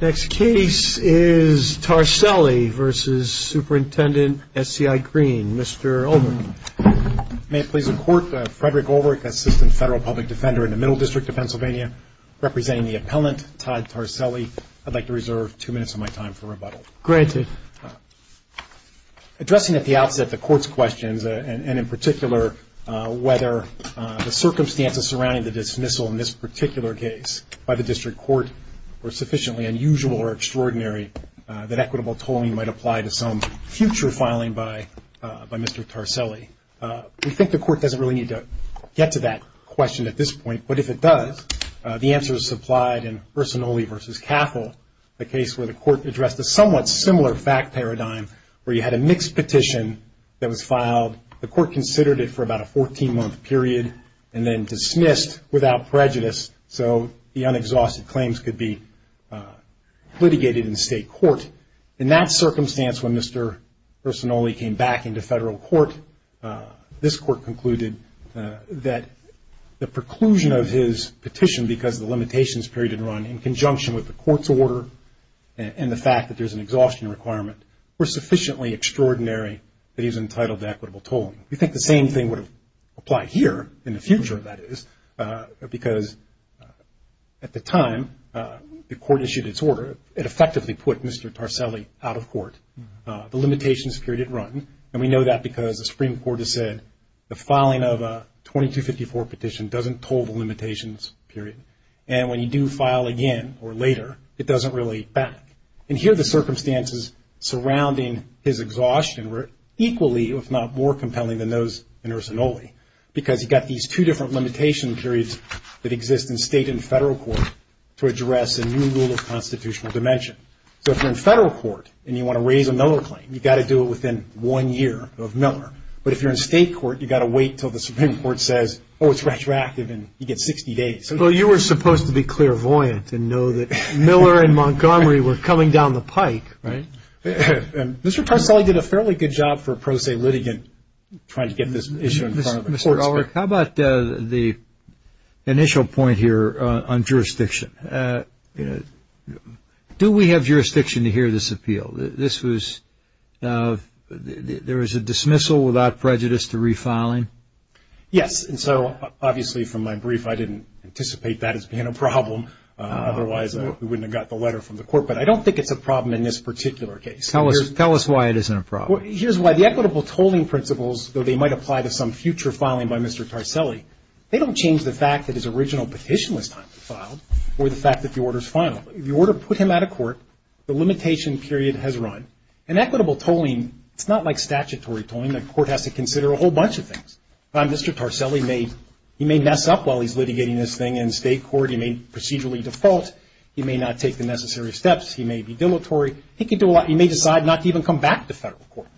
Next case is Tarselli v. Superintendent SCI Greene, Mr. Ulrich. May it please the Court, Frederick Ulrich, Assistant Federal Public Defender in the Middle District of Pennsylvania, representing the appellant Todd Tarselli. I'd like to reserve two minutes of my time for rebuttal. Granted. Addressing at the outset the Court's questions and in particular whether the circumstances surrounding the dismissal in this particular case by the District Court were sufficiently unusual or extraordinary that equitable tolling might apply to some future filing by Mr. Tarselli. We think the Court doesn't really need to get to that question at this point. But if it does, the answer is supplied in Personnelli v. Caffle, the case where the Court addressed a somewhat similar fact paradigm where you had a mixed petition that was filed. The Court considered it for about a 14-month period and then dismissed without prejudice so the unexhausted claims could be litigated in state court. In that circumstance when Mr. Personnelli came back into federal court, this Court concluded that the preclusion of his petition because the limitations period had run in conjunction with the Court's order and the fact that there's an exhaustion requirement were sufficiently extraordinary that he was entitled to equitable tolling. We think the same thing would apply here in the future that is because at the time the Court issued its order, it effectively put Mr. Tarselli out of court. The limitations period had run and we know that because the Supreme Court has said the filing of a 2254 petition doesn't toll the limitations period. And when you do file again or later, it doesn't really back. And here the circumstances surrounding his exhaustion were equally if not more compelling than those in Personnelli because he got these two different limitation periods that exist in state and federal court to address a new rule of constitutional dimension. So if you're in federal court and you want to raise a Miller claim, you've got to do it within one year of Miller. But if you're in state court, you've got to wait until the Supreme Court says, oh, it's retroactive and you get 60 days. Well, you were supposed to be clairvoyant and know that Miller and Montgomery were coming down the pike, right? Mr. Tarselli did a fairly good job for pro se litigant trying to get this issue in front of the court. How about the initial point here on jurisdiction? Do we have jurisdiction to hear this appeal? This was there is a dismissal without prejudice to refiling. Yes. And so obviously from my brief, I didn't anticipate that as being a problem. Otherwise, we wouldn't have got the letter from the court. But I don't think it's a problem in this particular case. Tell us why it isn't a problem. Here's why. The equitable tolling principles, though they might apply to some future filing by Mr. Tarselli, they don't change the fact that his original petition was time to file or the fact that the order is final. The order put him out of court. The limitation period has run. And equitable tolling, it's not like statutory tolling. The court has to consider a whole bunch of things. Mr. Tarselli may mess up while he's litigating this thing in state court. He may procedurally default. He may not take the necessary steps. He may be dilatory. He can do a lot. He may decide not to even come back to federal court.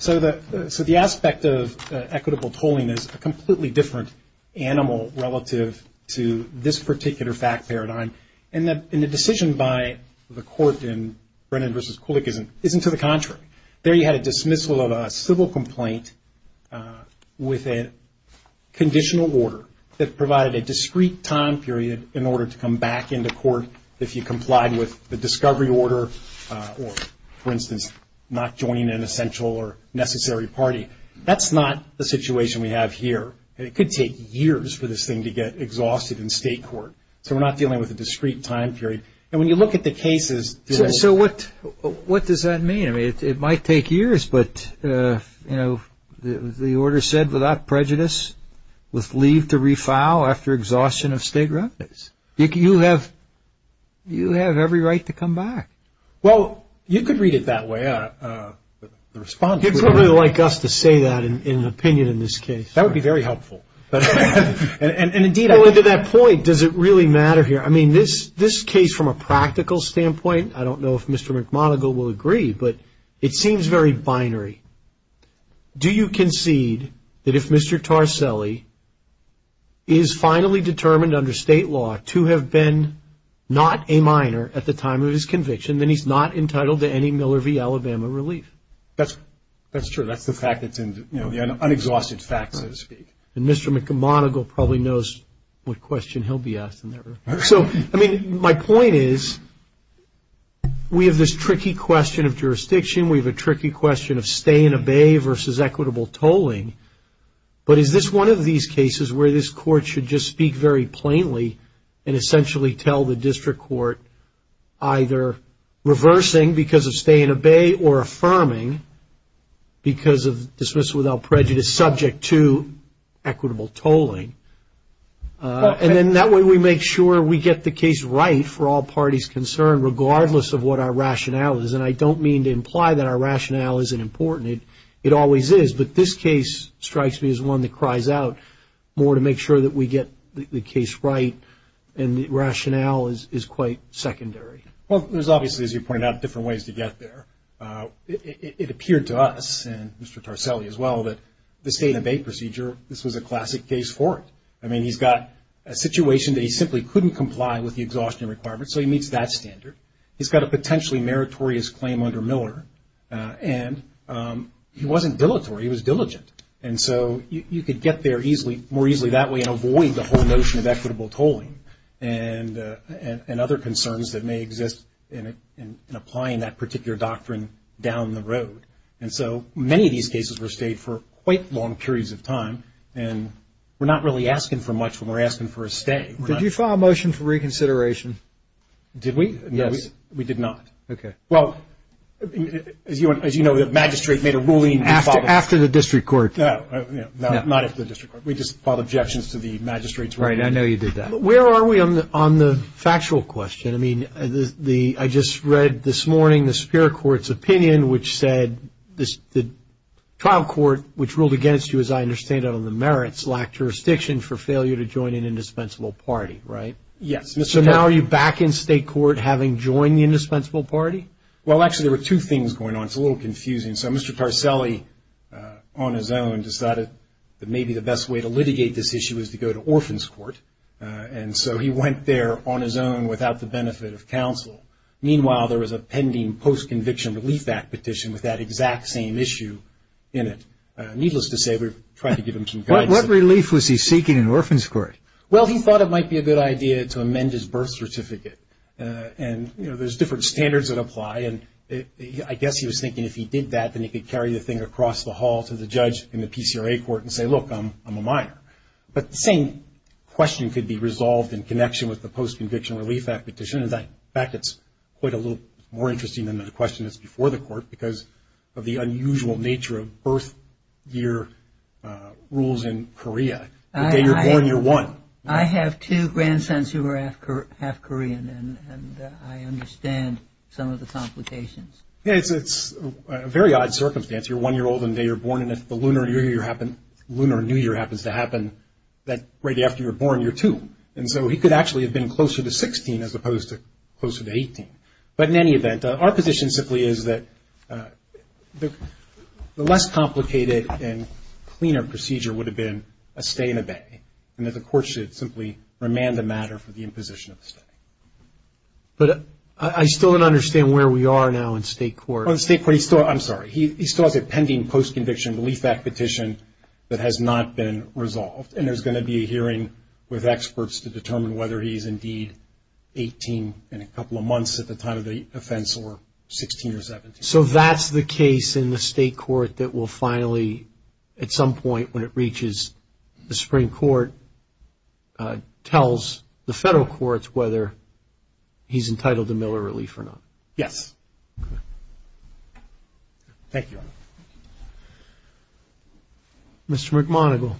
So the aspect of equitable tolling is a completely different animal relative to this particular fact paradigm. And the decision by the court in Brennan v. Kulik isn't to the contrary. There you had a dismissal of a civil complaint with a conditional order that provided a discrete time period in order to come back into court if you complied with the discovery order. Or, for instance, not joining an essential or necessary party. That's not the situation we have here. And it could take years for this thing to get exhausted in state court. So we're not dealing with a discrete time period. And when you look at the cases. So what does that mean? I mean, it might take years, but, you know, the order said without prejudice, with leave to refile after exhaustion of state revenues. You have every right to come back. Well, you could read it that way, the response. You'd probably like us to say that in an opinion in this case. That would be very helpful. And, indeed, I think. Going to that point, does it really matter here? I mean, this case from a practical standpoint, I don't know if Mr. McMonigle will agree, but it seems very binary. Do you concede that if Mr. Tarselli is finally determined under state law to have been not a minor at the time of his conviction, then he's not entitled to any Miller v. Alabama relief? That's true. That's the fact that's in the unexhausted facts, so to speak. And Mr. McMonigle probably knows what question he'll be asked in that regard. So, I mean, my point is we have this tricky question of jurisdiction. We have a tricky question of stay and obey versus equitable tolling. But is this one of these cases where this court should just speak very plainly and essentially tell the district court either reversing because of stay and obey or affirming because of dismissal without prejudice subject to equitable tolling? And then that way we make sure we get the case right for all parties concerned, regardless of what our rationale is. And I don't mean to imply that our rationale isn't important. It always is. But this case strikes me as one that cries out more to make sure that we get the case right, and the rationale is quite secondary. Well, there's obviously, as you pointed out, different ways to get there. It appeared to us, and Mr. Tarselli as well, that the stay and obey procedure, this was a classic case for it. I mean, he's got a situation that he simply couldn't comply with the exhaustion requirements, so he meets that standard. He's got a potentially meritorious claim under Miller. And he wasn't dilatory. He was diligent. And so you could get there more easily that way and avoid the whole notion of equitable tolling and other concerns that may exist in applying that particular doctrine down the road. And so many of these cases were stayed for quite long periods of time, and we're not really asking for much when we're asking for a stay. Did you file a motion for reconsideration? Did we? No, we did not. Okay. Well, as you know, the magistrate made a ruling. After the district court. No, not after the district court. We just filed objections to the magistrate's ruling. Right. I know you did that. Where are we on the factual question? I mean, I just read this morning the Superior Court's opinion, which said the trial court, which ruled against you, as I understand it, on the merits, lacked jurisdiction for failure to join an indispensable party, right? Yes. So now are you back in state court having joined the indispensable party? Well, actually, there were two things going on. It's a little confusing. So Mr. Tarselli, on his own, decided that maybe the best way to litigate this issue is to go to orphans court. And so he went there on his own without the benefit of counsel. Meanwhile, there was a pending post-conviction relief act petition with that exact same issue in it. Needless to say, we tried to give him some guidance. What relief was he seeking in orphans court? Well, he thought it might be a good idea to amend his birth certificate. And, you know, there's different standards that apply. And I guess he was thinking if he did that, then he could carry the thing across the hall to the judge in the PCRA court and say, look, I'm a minor. But the same question could be resolved in connection with the post-conviction relief act petition. In fact, it's quite a little more interesting than the question that's before the court because of the unusual nature of birth year rules in Korea. The day you're born, you're one. I have two grandsons who are half Korean, and I understand some of the complications. Yeah, it's a very odd circumstance. You're one year old and the day you're born and if the lunar new year happens to happen, that right after you're born, you're two. And so he could actually have been closer to 16 as opposed to closer to 18. But in any event, our position simply is that the less complicated and cleaner procedure would have been a stay in a bay. And that the court should simply remand the matter for the imposition of a stay. But I still don't understand where we are now in state court. In state court, he still has a pending post-conviction relief act petition that has not been resolved. And there's going to be a hearing with experts to determine whether he is indeed 18 in a couple of months at the time of the offense or 16 or 17. So that's the case in the state court that will finally, at some point when it reaches the Supreme Court, tells the federal courts whether he's entitled to Miller relief or not. Yes. Thank you. Mr. McMonigle.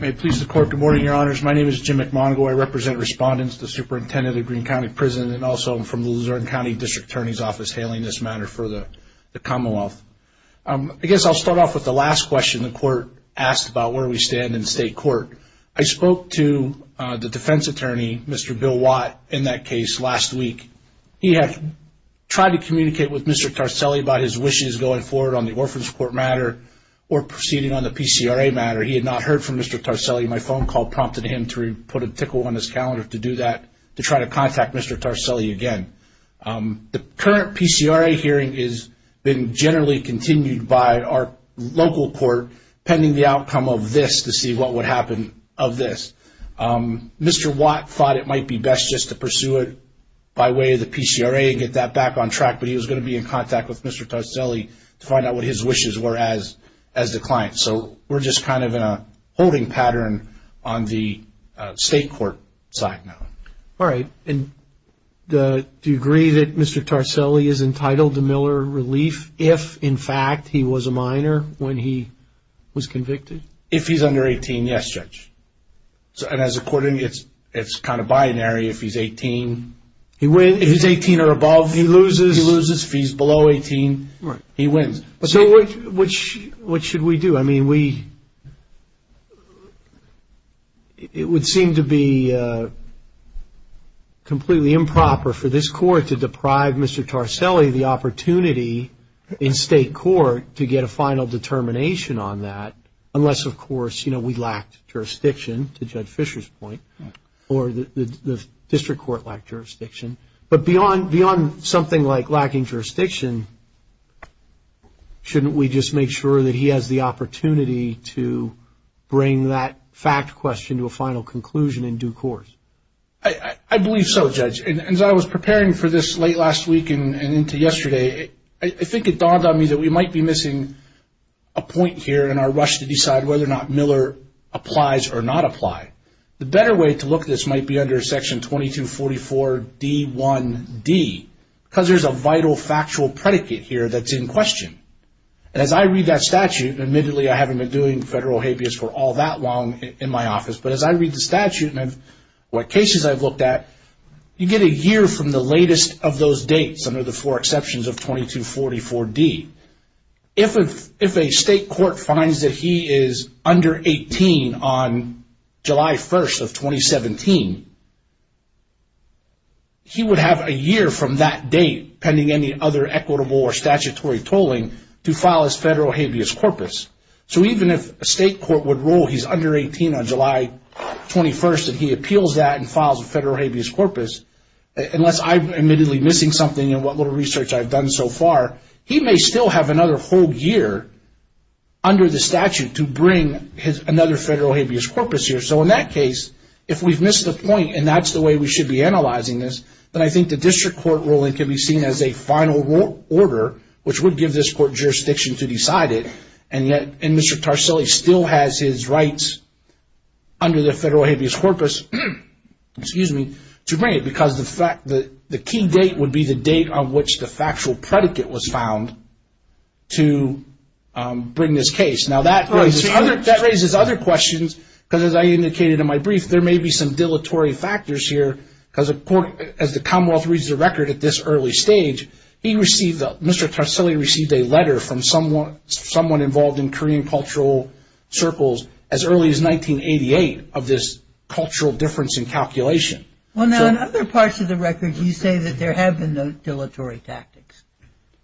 May it please the court, good morning, your honors. My name is Jim McMonigle. I represent respondents, the superintendent of Greene County Prison, and also I'm from the Luzerne County District Attorney's Office hailing this matter for the Commonwealth. I guess I'll start off with the last question the court asked about where we stand in state court. I spoke to the defense attorney, Mr. Bill Watt, in that case last week. He had tried to communicate with Mr. Tarselli about his wishes going forward on the Orphan's Court matter or proceeding on the PCRA matter. He had not heard from Mr. Tarselli. My phone call prompted him to put a tickle on his calendar to do that, to try to contact Mr. Tarselli again. The current PCRA hearing has been generally continued by our local court pending the outcome of this to see what would happen of this. Mr. Watt thought it might be best just to pursue it by way of the PCRA and get that back on track, but he was going to be in contact with Mr. Tarselli to find out what his wishes were as the client. So we're just kind of in a holding pattern on the state court side now. All right. Do you agree that Mr. Tarselli is entitled to Miller relief if, in fact, he was a minor when he was convicted? If he's under 18, yes, Judge. As a court, it's kind of binary. If he's 18 or above, he loses. If he's below 18, he wins. So what should we do? I mean, we – it would seem to be completely improper for this court to deprive Mr. Tarselli of the opportunity in state court to get a final determination on that unless, of course, you know, we lacked jurisdiction, to Judge Fisher's point, or the district court lacked jurisdiction. But beyond something like lacking jurisdiction, shouldn't we just make sure that he has the opportunity to bring that fact question to a final conclusion in due course? I believe so, Judge. As I was preparing for this late last week and into yesterday, I think it dawned on me that we might be missing a point here in our rush to decide whether or not Miller applies or not apply. The better way to look at this might be under Section 2244d1d because there's a vital factual predicate here that's in question. And as I read that statute – and admittedly, I haven't been doing federal habeas for all that long in my office – but as I read the statute and what cases I've looked at, you get a year from the latest of those dates under the four exceptions of 2244d. If a state court finds that he is under 18 on July 1st of 2017, he would have a year from that date pending any other equitable or statutory tolling to file his federal habeas corpus. So even if a state court would rule he's under 18 on July 21st and he appeals that and files a federal habeas corpus, unless I'm admittedly missing something in what little research I've done so far, he may still have another whole year under the statute to bring another federal habeas corpus here. So in that case, if we've missed a point and that's the way we should be analyzing this, then I think the district court ruling could be seen as a final order, which would give this court jurisdiction to decide it, and yet Mr. Tarsilli still has his rights under the federal habeas corpus to bring it because the key date would be the date on which the factual predicate was found to bring this case. Now, that raises other questions, because as I indicated in my brief, there may be some dilatory factors here, because as the Commonwealth reads the record at this early stage, Mr. Tarsilli received a letter from someone involved in Korean cultural circles as early as 1988 of this cultural difference in calculation. Well, now, in other parts of the record, you say that there have been dilatory tactics,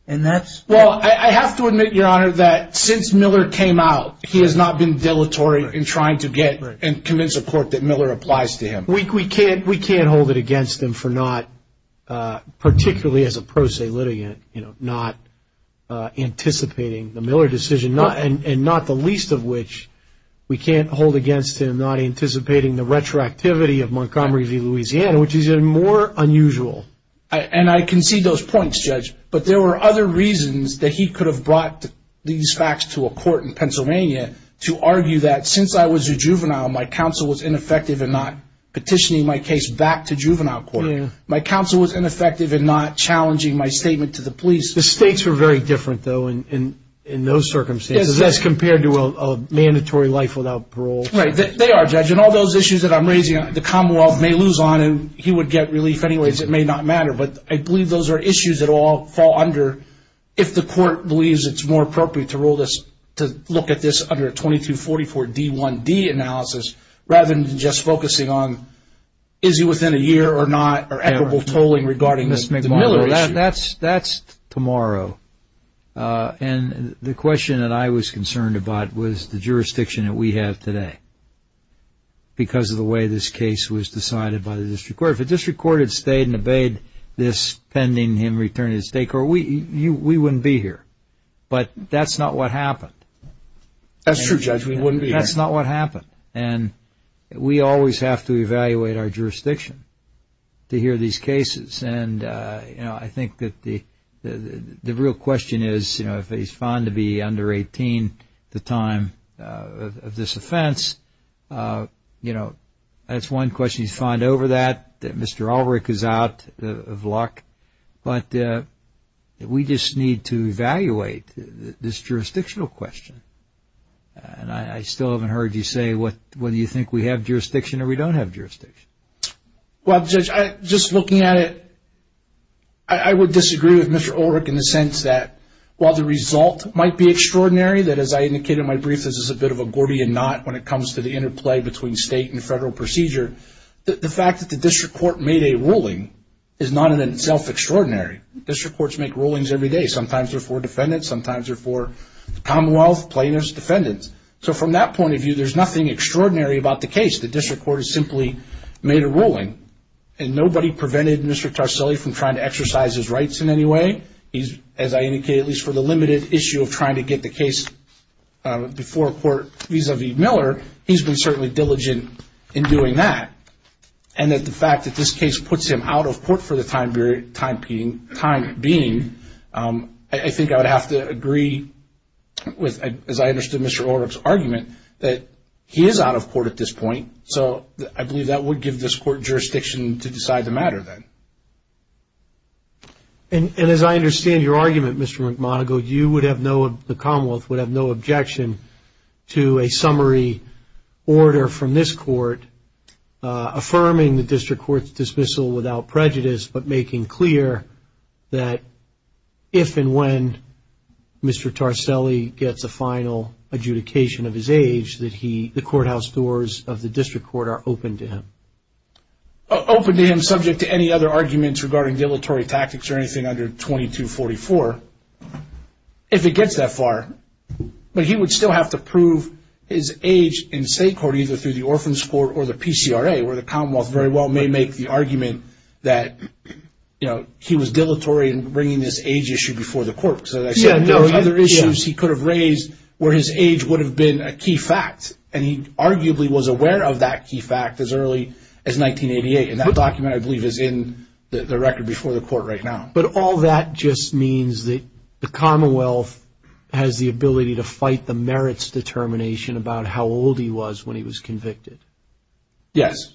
and that's... Well, I have to admit, Your Honor, that since Miller came out, he has not been dilatory in trying to get and convince a court that Miller applies to him. We can't hold it against him for not, particularly as a pro se litigant, not anticipating the Miller decision, and not the least of which we can't hold against him for not anticipating the retroactivity of Montgomery v. Louisiana, which is even more unusual. And I concede those points, Judge, but there were other reasons that he could have brought these facts to a court in Pennsylvania to argue that since I was a juvenile, my counsel was ineffective in not petitioning my case back to juvenile court. My counsel was ineffective in not challenging my statement to the police. The stakes are very different, though, in those circumstances as compared to a mandatory life without parole. Right. They are, Judge. And all those issues that I'm raising, the Commonwealth may lose on, and he would get relief anyways. It may not matter. But I believe those are issues that all fall under if the court believes it's more appropriate to rule this, to look at this under a 2244-D1-D analysis rather than just focusing on is he within a year or not, or equitable tolling regarding the Miller issue. Well, that's tomorrow. And the question that I was concerned about was the jurisdiction that we have today because of the way this case was decided by the district court. If the district court had stayed and obeyed this pending him return to the state court, we wouldn't be here. But that's not what happened. That's true, Judge. We wouldn't be here. That's not what happened. And we always have to evaluate our jurisdiction to hear these cases. And, you know, I think that the real question is, you know, if he's found to be under 18 at the time of this offense, you know, that's one question he's found over that, that Mr. Ulrich is out of luck. But we just need to evaluate this jurisdictional question. And I still haven't heard you say whether you think we have jurisdiction or we don't have jurisdiction. Well, Judge, just looking at it, I would disagree with Mr. Ulrich in the sense that while the result might be extraordinary, that as I indicated in my brief, this is a bit of a Gordian knot when it comes to the interplay between state and federal procedure, the fact that the district court made a ruling is not in itself extraordinary. District courts make rulings every day. Sometimes they're for defendants. Sometimes they're for Commonwealth plaintiffs, defendants. So from that point of view, there's nothing extraordinary about the case. The district court has simply made a ruling. And nobody prevented Mr. Tarselli from trying to exercise his rights in any way. As I indicated, at least for the limited issue of trying to get the case before court vis-a-vis Miller, he's been certainly diligent in doing that. And that the fact that this case puts him out of court for the time being, I think I would have to agree with, as I understood Mr. Ulrich's argument, that he is out of court at this point. So I believe that would give this court jurisdiction to decide the matter then. And as I understand your argument, Mr. McMonigle, you would have no, the Commonwealth would have no objection to a summary order from this court affirming the district court's dismissal without prejudice, but making clear that if and when Mr. Tarselli gets a final adjudication of his age, that the courthouse doors of the district court are open to him. Open to him subject to any other arguments regarding dilatory tactics or anything under 2244, if it gets that far. But he would still have to prove his age in state court, either through the Orphan's Court or the PCRA, where the Commonwealth very well may make the argument that, you know, he was dilatory in bringing this age issue before the court. Because as I said, there were other issues he could have raised where his age would have been a key fact. And he arguably was aware of that key fact as early as 1988. And that document, I believe, is in the record before the court right now. But all that just means that the Commonwealth has the ability to fight the merits determination about how old he was when he was convicted. Yes.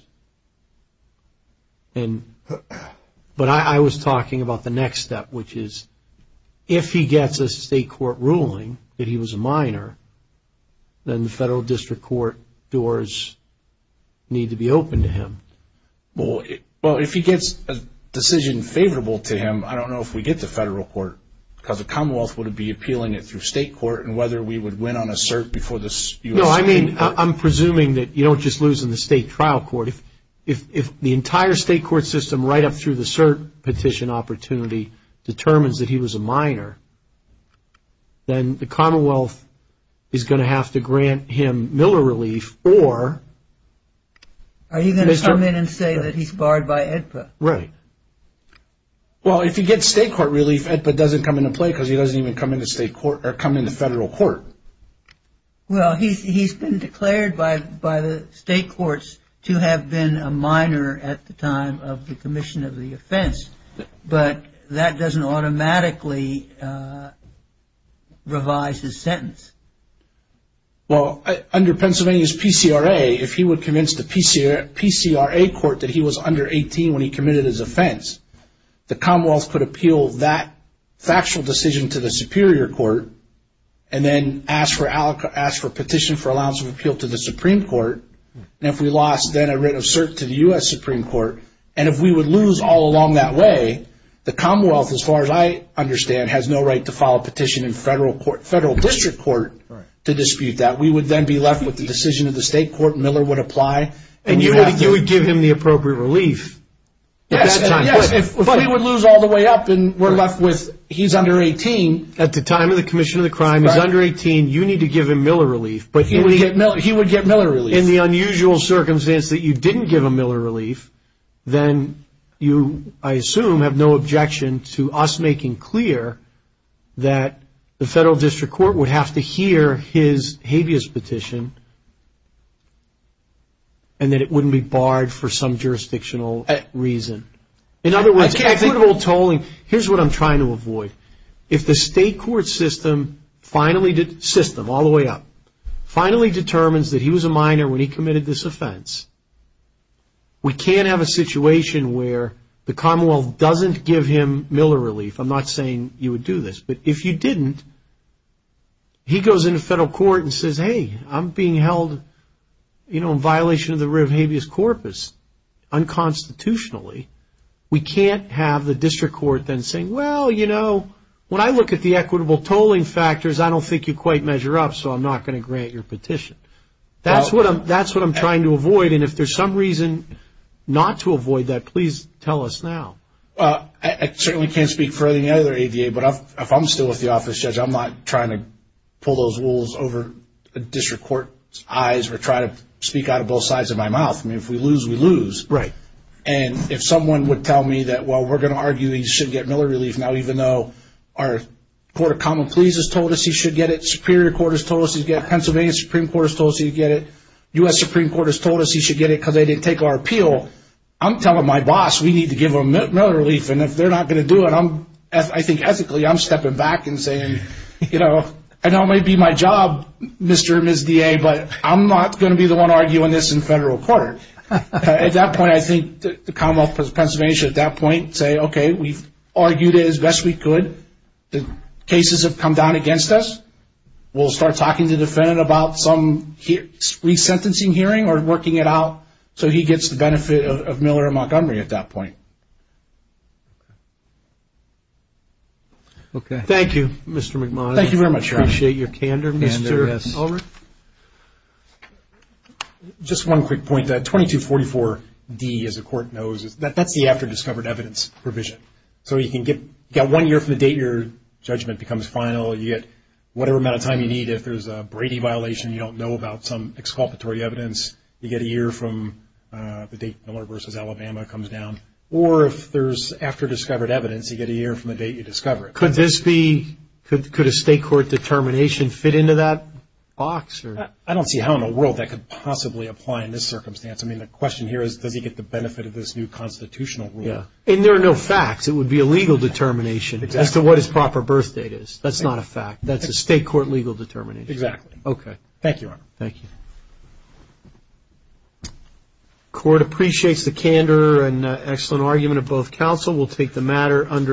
But I was talking about the next step, which is if he gets a state court ruling that he was a minor, then the federal district court doors need to be open to him. Well, if he gets a decision favorable to him, I don't know if we get the federal court, because the Commonwealth would be appealing it through state court and whether we would win on a cert before the U.S. Supreme Court. No, I mean, I'm presuming that you don't just lose in the state trial court. If the entire state court system, right up through the cert petition opportunity, determines that he was a minor, then the Commonwealth is going to have to grant him Miller relief or... Are you going to come in and say that he's barred by AEDPA? Right. Well, if he gets state court relief, AEDPA doesn't come into play, because he doesn't even come into federal court. Well, he's been declared by the state courts to have been a minor at the time of the commission of the offense, but that doesn't automatically revise his sentence. Well, under Pennsylvania's PCRA, if he would convince the PCRA court that he was under 18 when he committed his offense, the Commonwealth could appeal that factual decision to the superior court and then ask for a petition for allowance of appeal to the Supreme Court, and if we lost, then a writ of cert to the U.S. Supreme Court, and if we would lose all along that way, the Commonwealth, as far as I understand, has no right to file a petition in federal district court to dispute that. We would then be left with the decision of the state court, Miller would apply... And you would give him the appropriate relief at that time. Yes, but if we would lose all the way up and we're left with he's under 18... At the time of the commission of the crime, he's under 18, you need to give him Miller relief. He would get Miller relief. In the unusual circumstance that you didn't give him Miller relief, then you, I assume, have no objection to us making clear that the federal district court would have to hear his habeas petition and that it wouldn't be barred for some jurisdictional reason. In other words, equitable tolling, here's what I'm trying to avoid. If the state court system, all the way up, finally determines that he was a minor when he committed this offense, we can't have a situation where the Commonwealth doesn't give him Miller relief. I'm not saying you would do this, but if you didn't, he goes into federal court and says, hey, I'm being held in violation of the writ of habeas corpus unconstitutionally. We can't have the district court then saying, well, you know, when I look at the equitable tolling factors, I don't think you quite measure up, so I'm not going to grant your petition. That's what I'm trying to avoid, and if there's some reason not to avoid that, please tell us now. I certainly can't speak for any other ADA, but if I'm still with the office, Judge, I'm not trying to pull those rules over the district court's eyes or try to speak out of both sides of my mouth. I mean, if we lose, we lose. Right. And if someone would tell me that, well, we're going to argue he should get Miller relief now, even though our court of common pleas has told us he should get it, superior court has told us he should get it, Pennsylvania Supreme Court has told us he should get it, U.S. Supreme Court has told us he should get it because they didn't take our appeal, I'm telling my boss we need to give him Miller relief, and if they're not going to do it, I think ethically I'm stepping back and saying, you know, I know it may be my job, Mr. and Ms. DA, but I'm not going to be the one arguing this in federal court. At that point, I think the Commonwealth of Pennsylvania should at that point say, okay, we've argued it as best we could. The cases have come down against us. We'll start talking to the defendant about some resentencing hearing or working it out so he gets the benefit of Miller and Montgomery at that point. Okay. Thank you, Mr. McMahon. Thank you very much. I appreciate your candor, Mr. Ulrich. Just one quick point. 2244-D, as the court knows, that's the after-discovered evidence provision. So you can get one year from the date your judgment becomes final, you get whatever amount of time you need. If there's a Brady violation, you don't know about some exculpatory evidence, you get a year from the date Miller v. Alabama comes down, or if there's after-discovered evidence, you get a year from the date you discover it. Could this be – could a state court determination fit into that box? I don't see how in the world that could possibly apply in this circumstance. I mean, the question here is, does he get the benefit of this new constitutional rule? And there are no facts. It would be a legal determination as to what his proper birth date is. That's not a fact. That's a state court legal determination. Exactly. Okay. Thank you, Your Honor. Thank you. The court appreciates the candor and excellent argument of both counsel. We'll take the matter under a vote.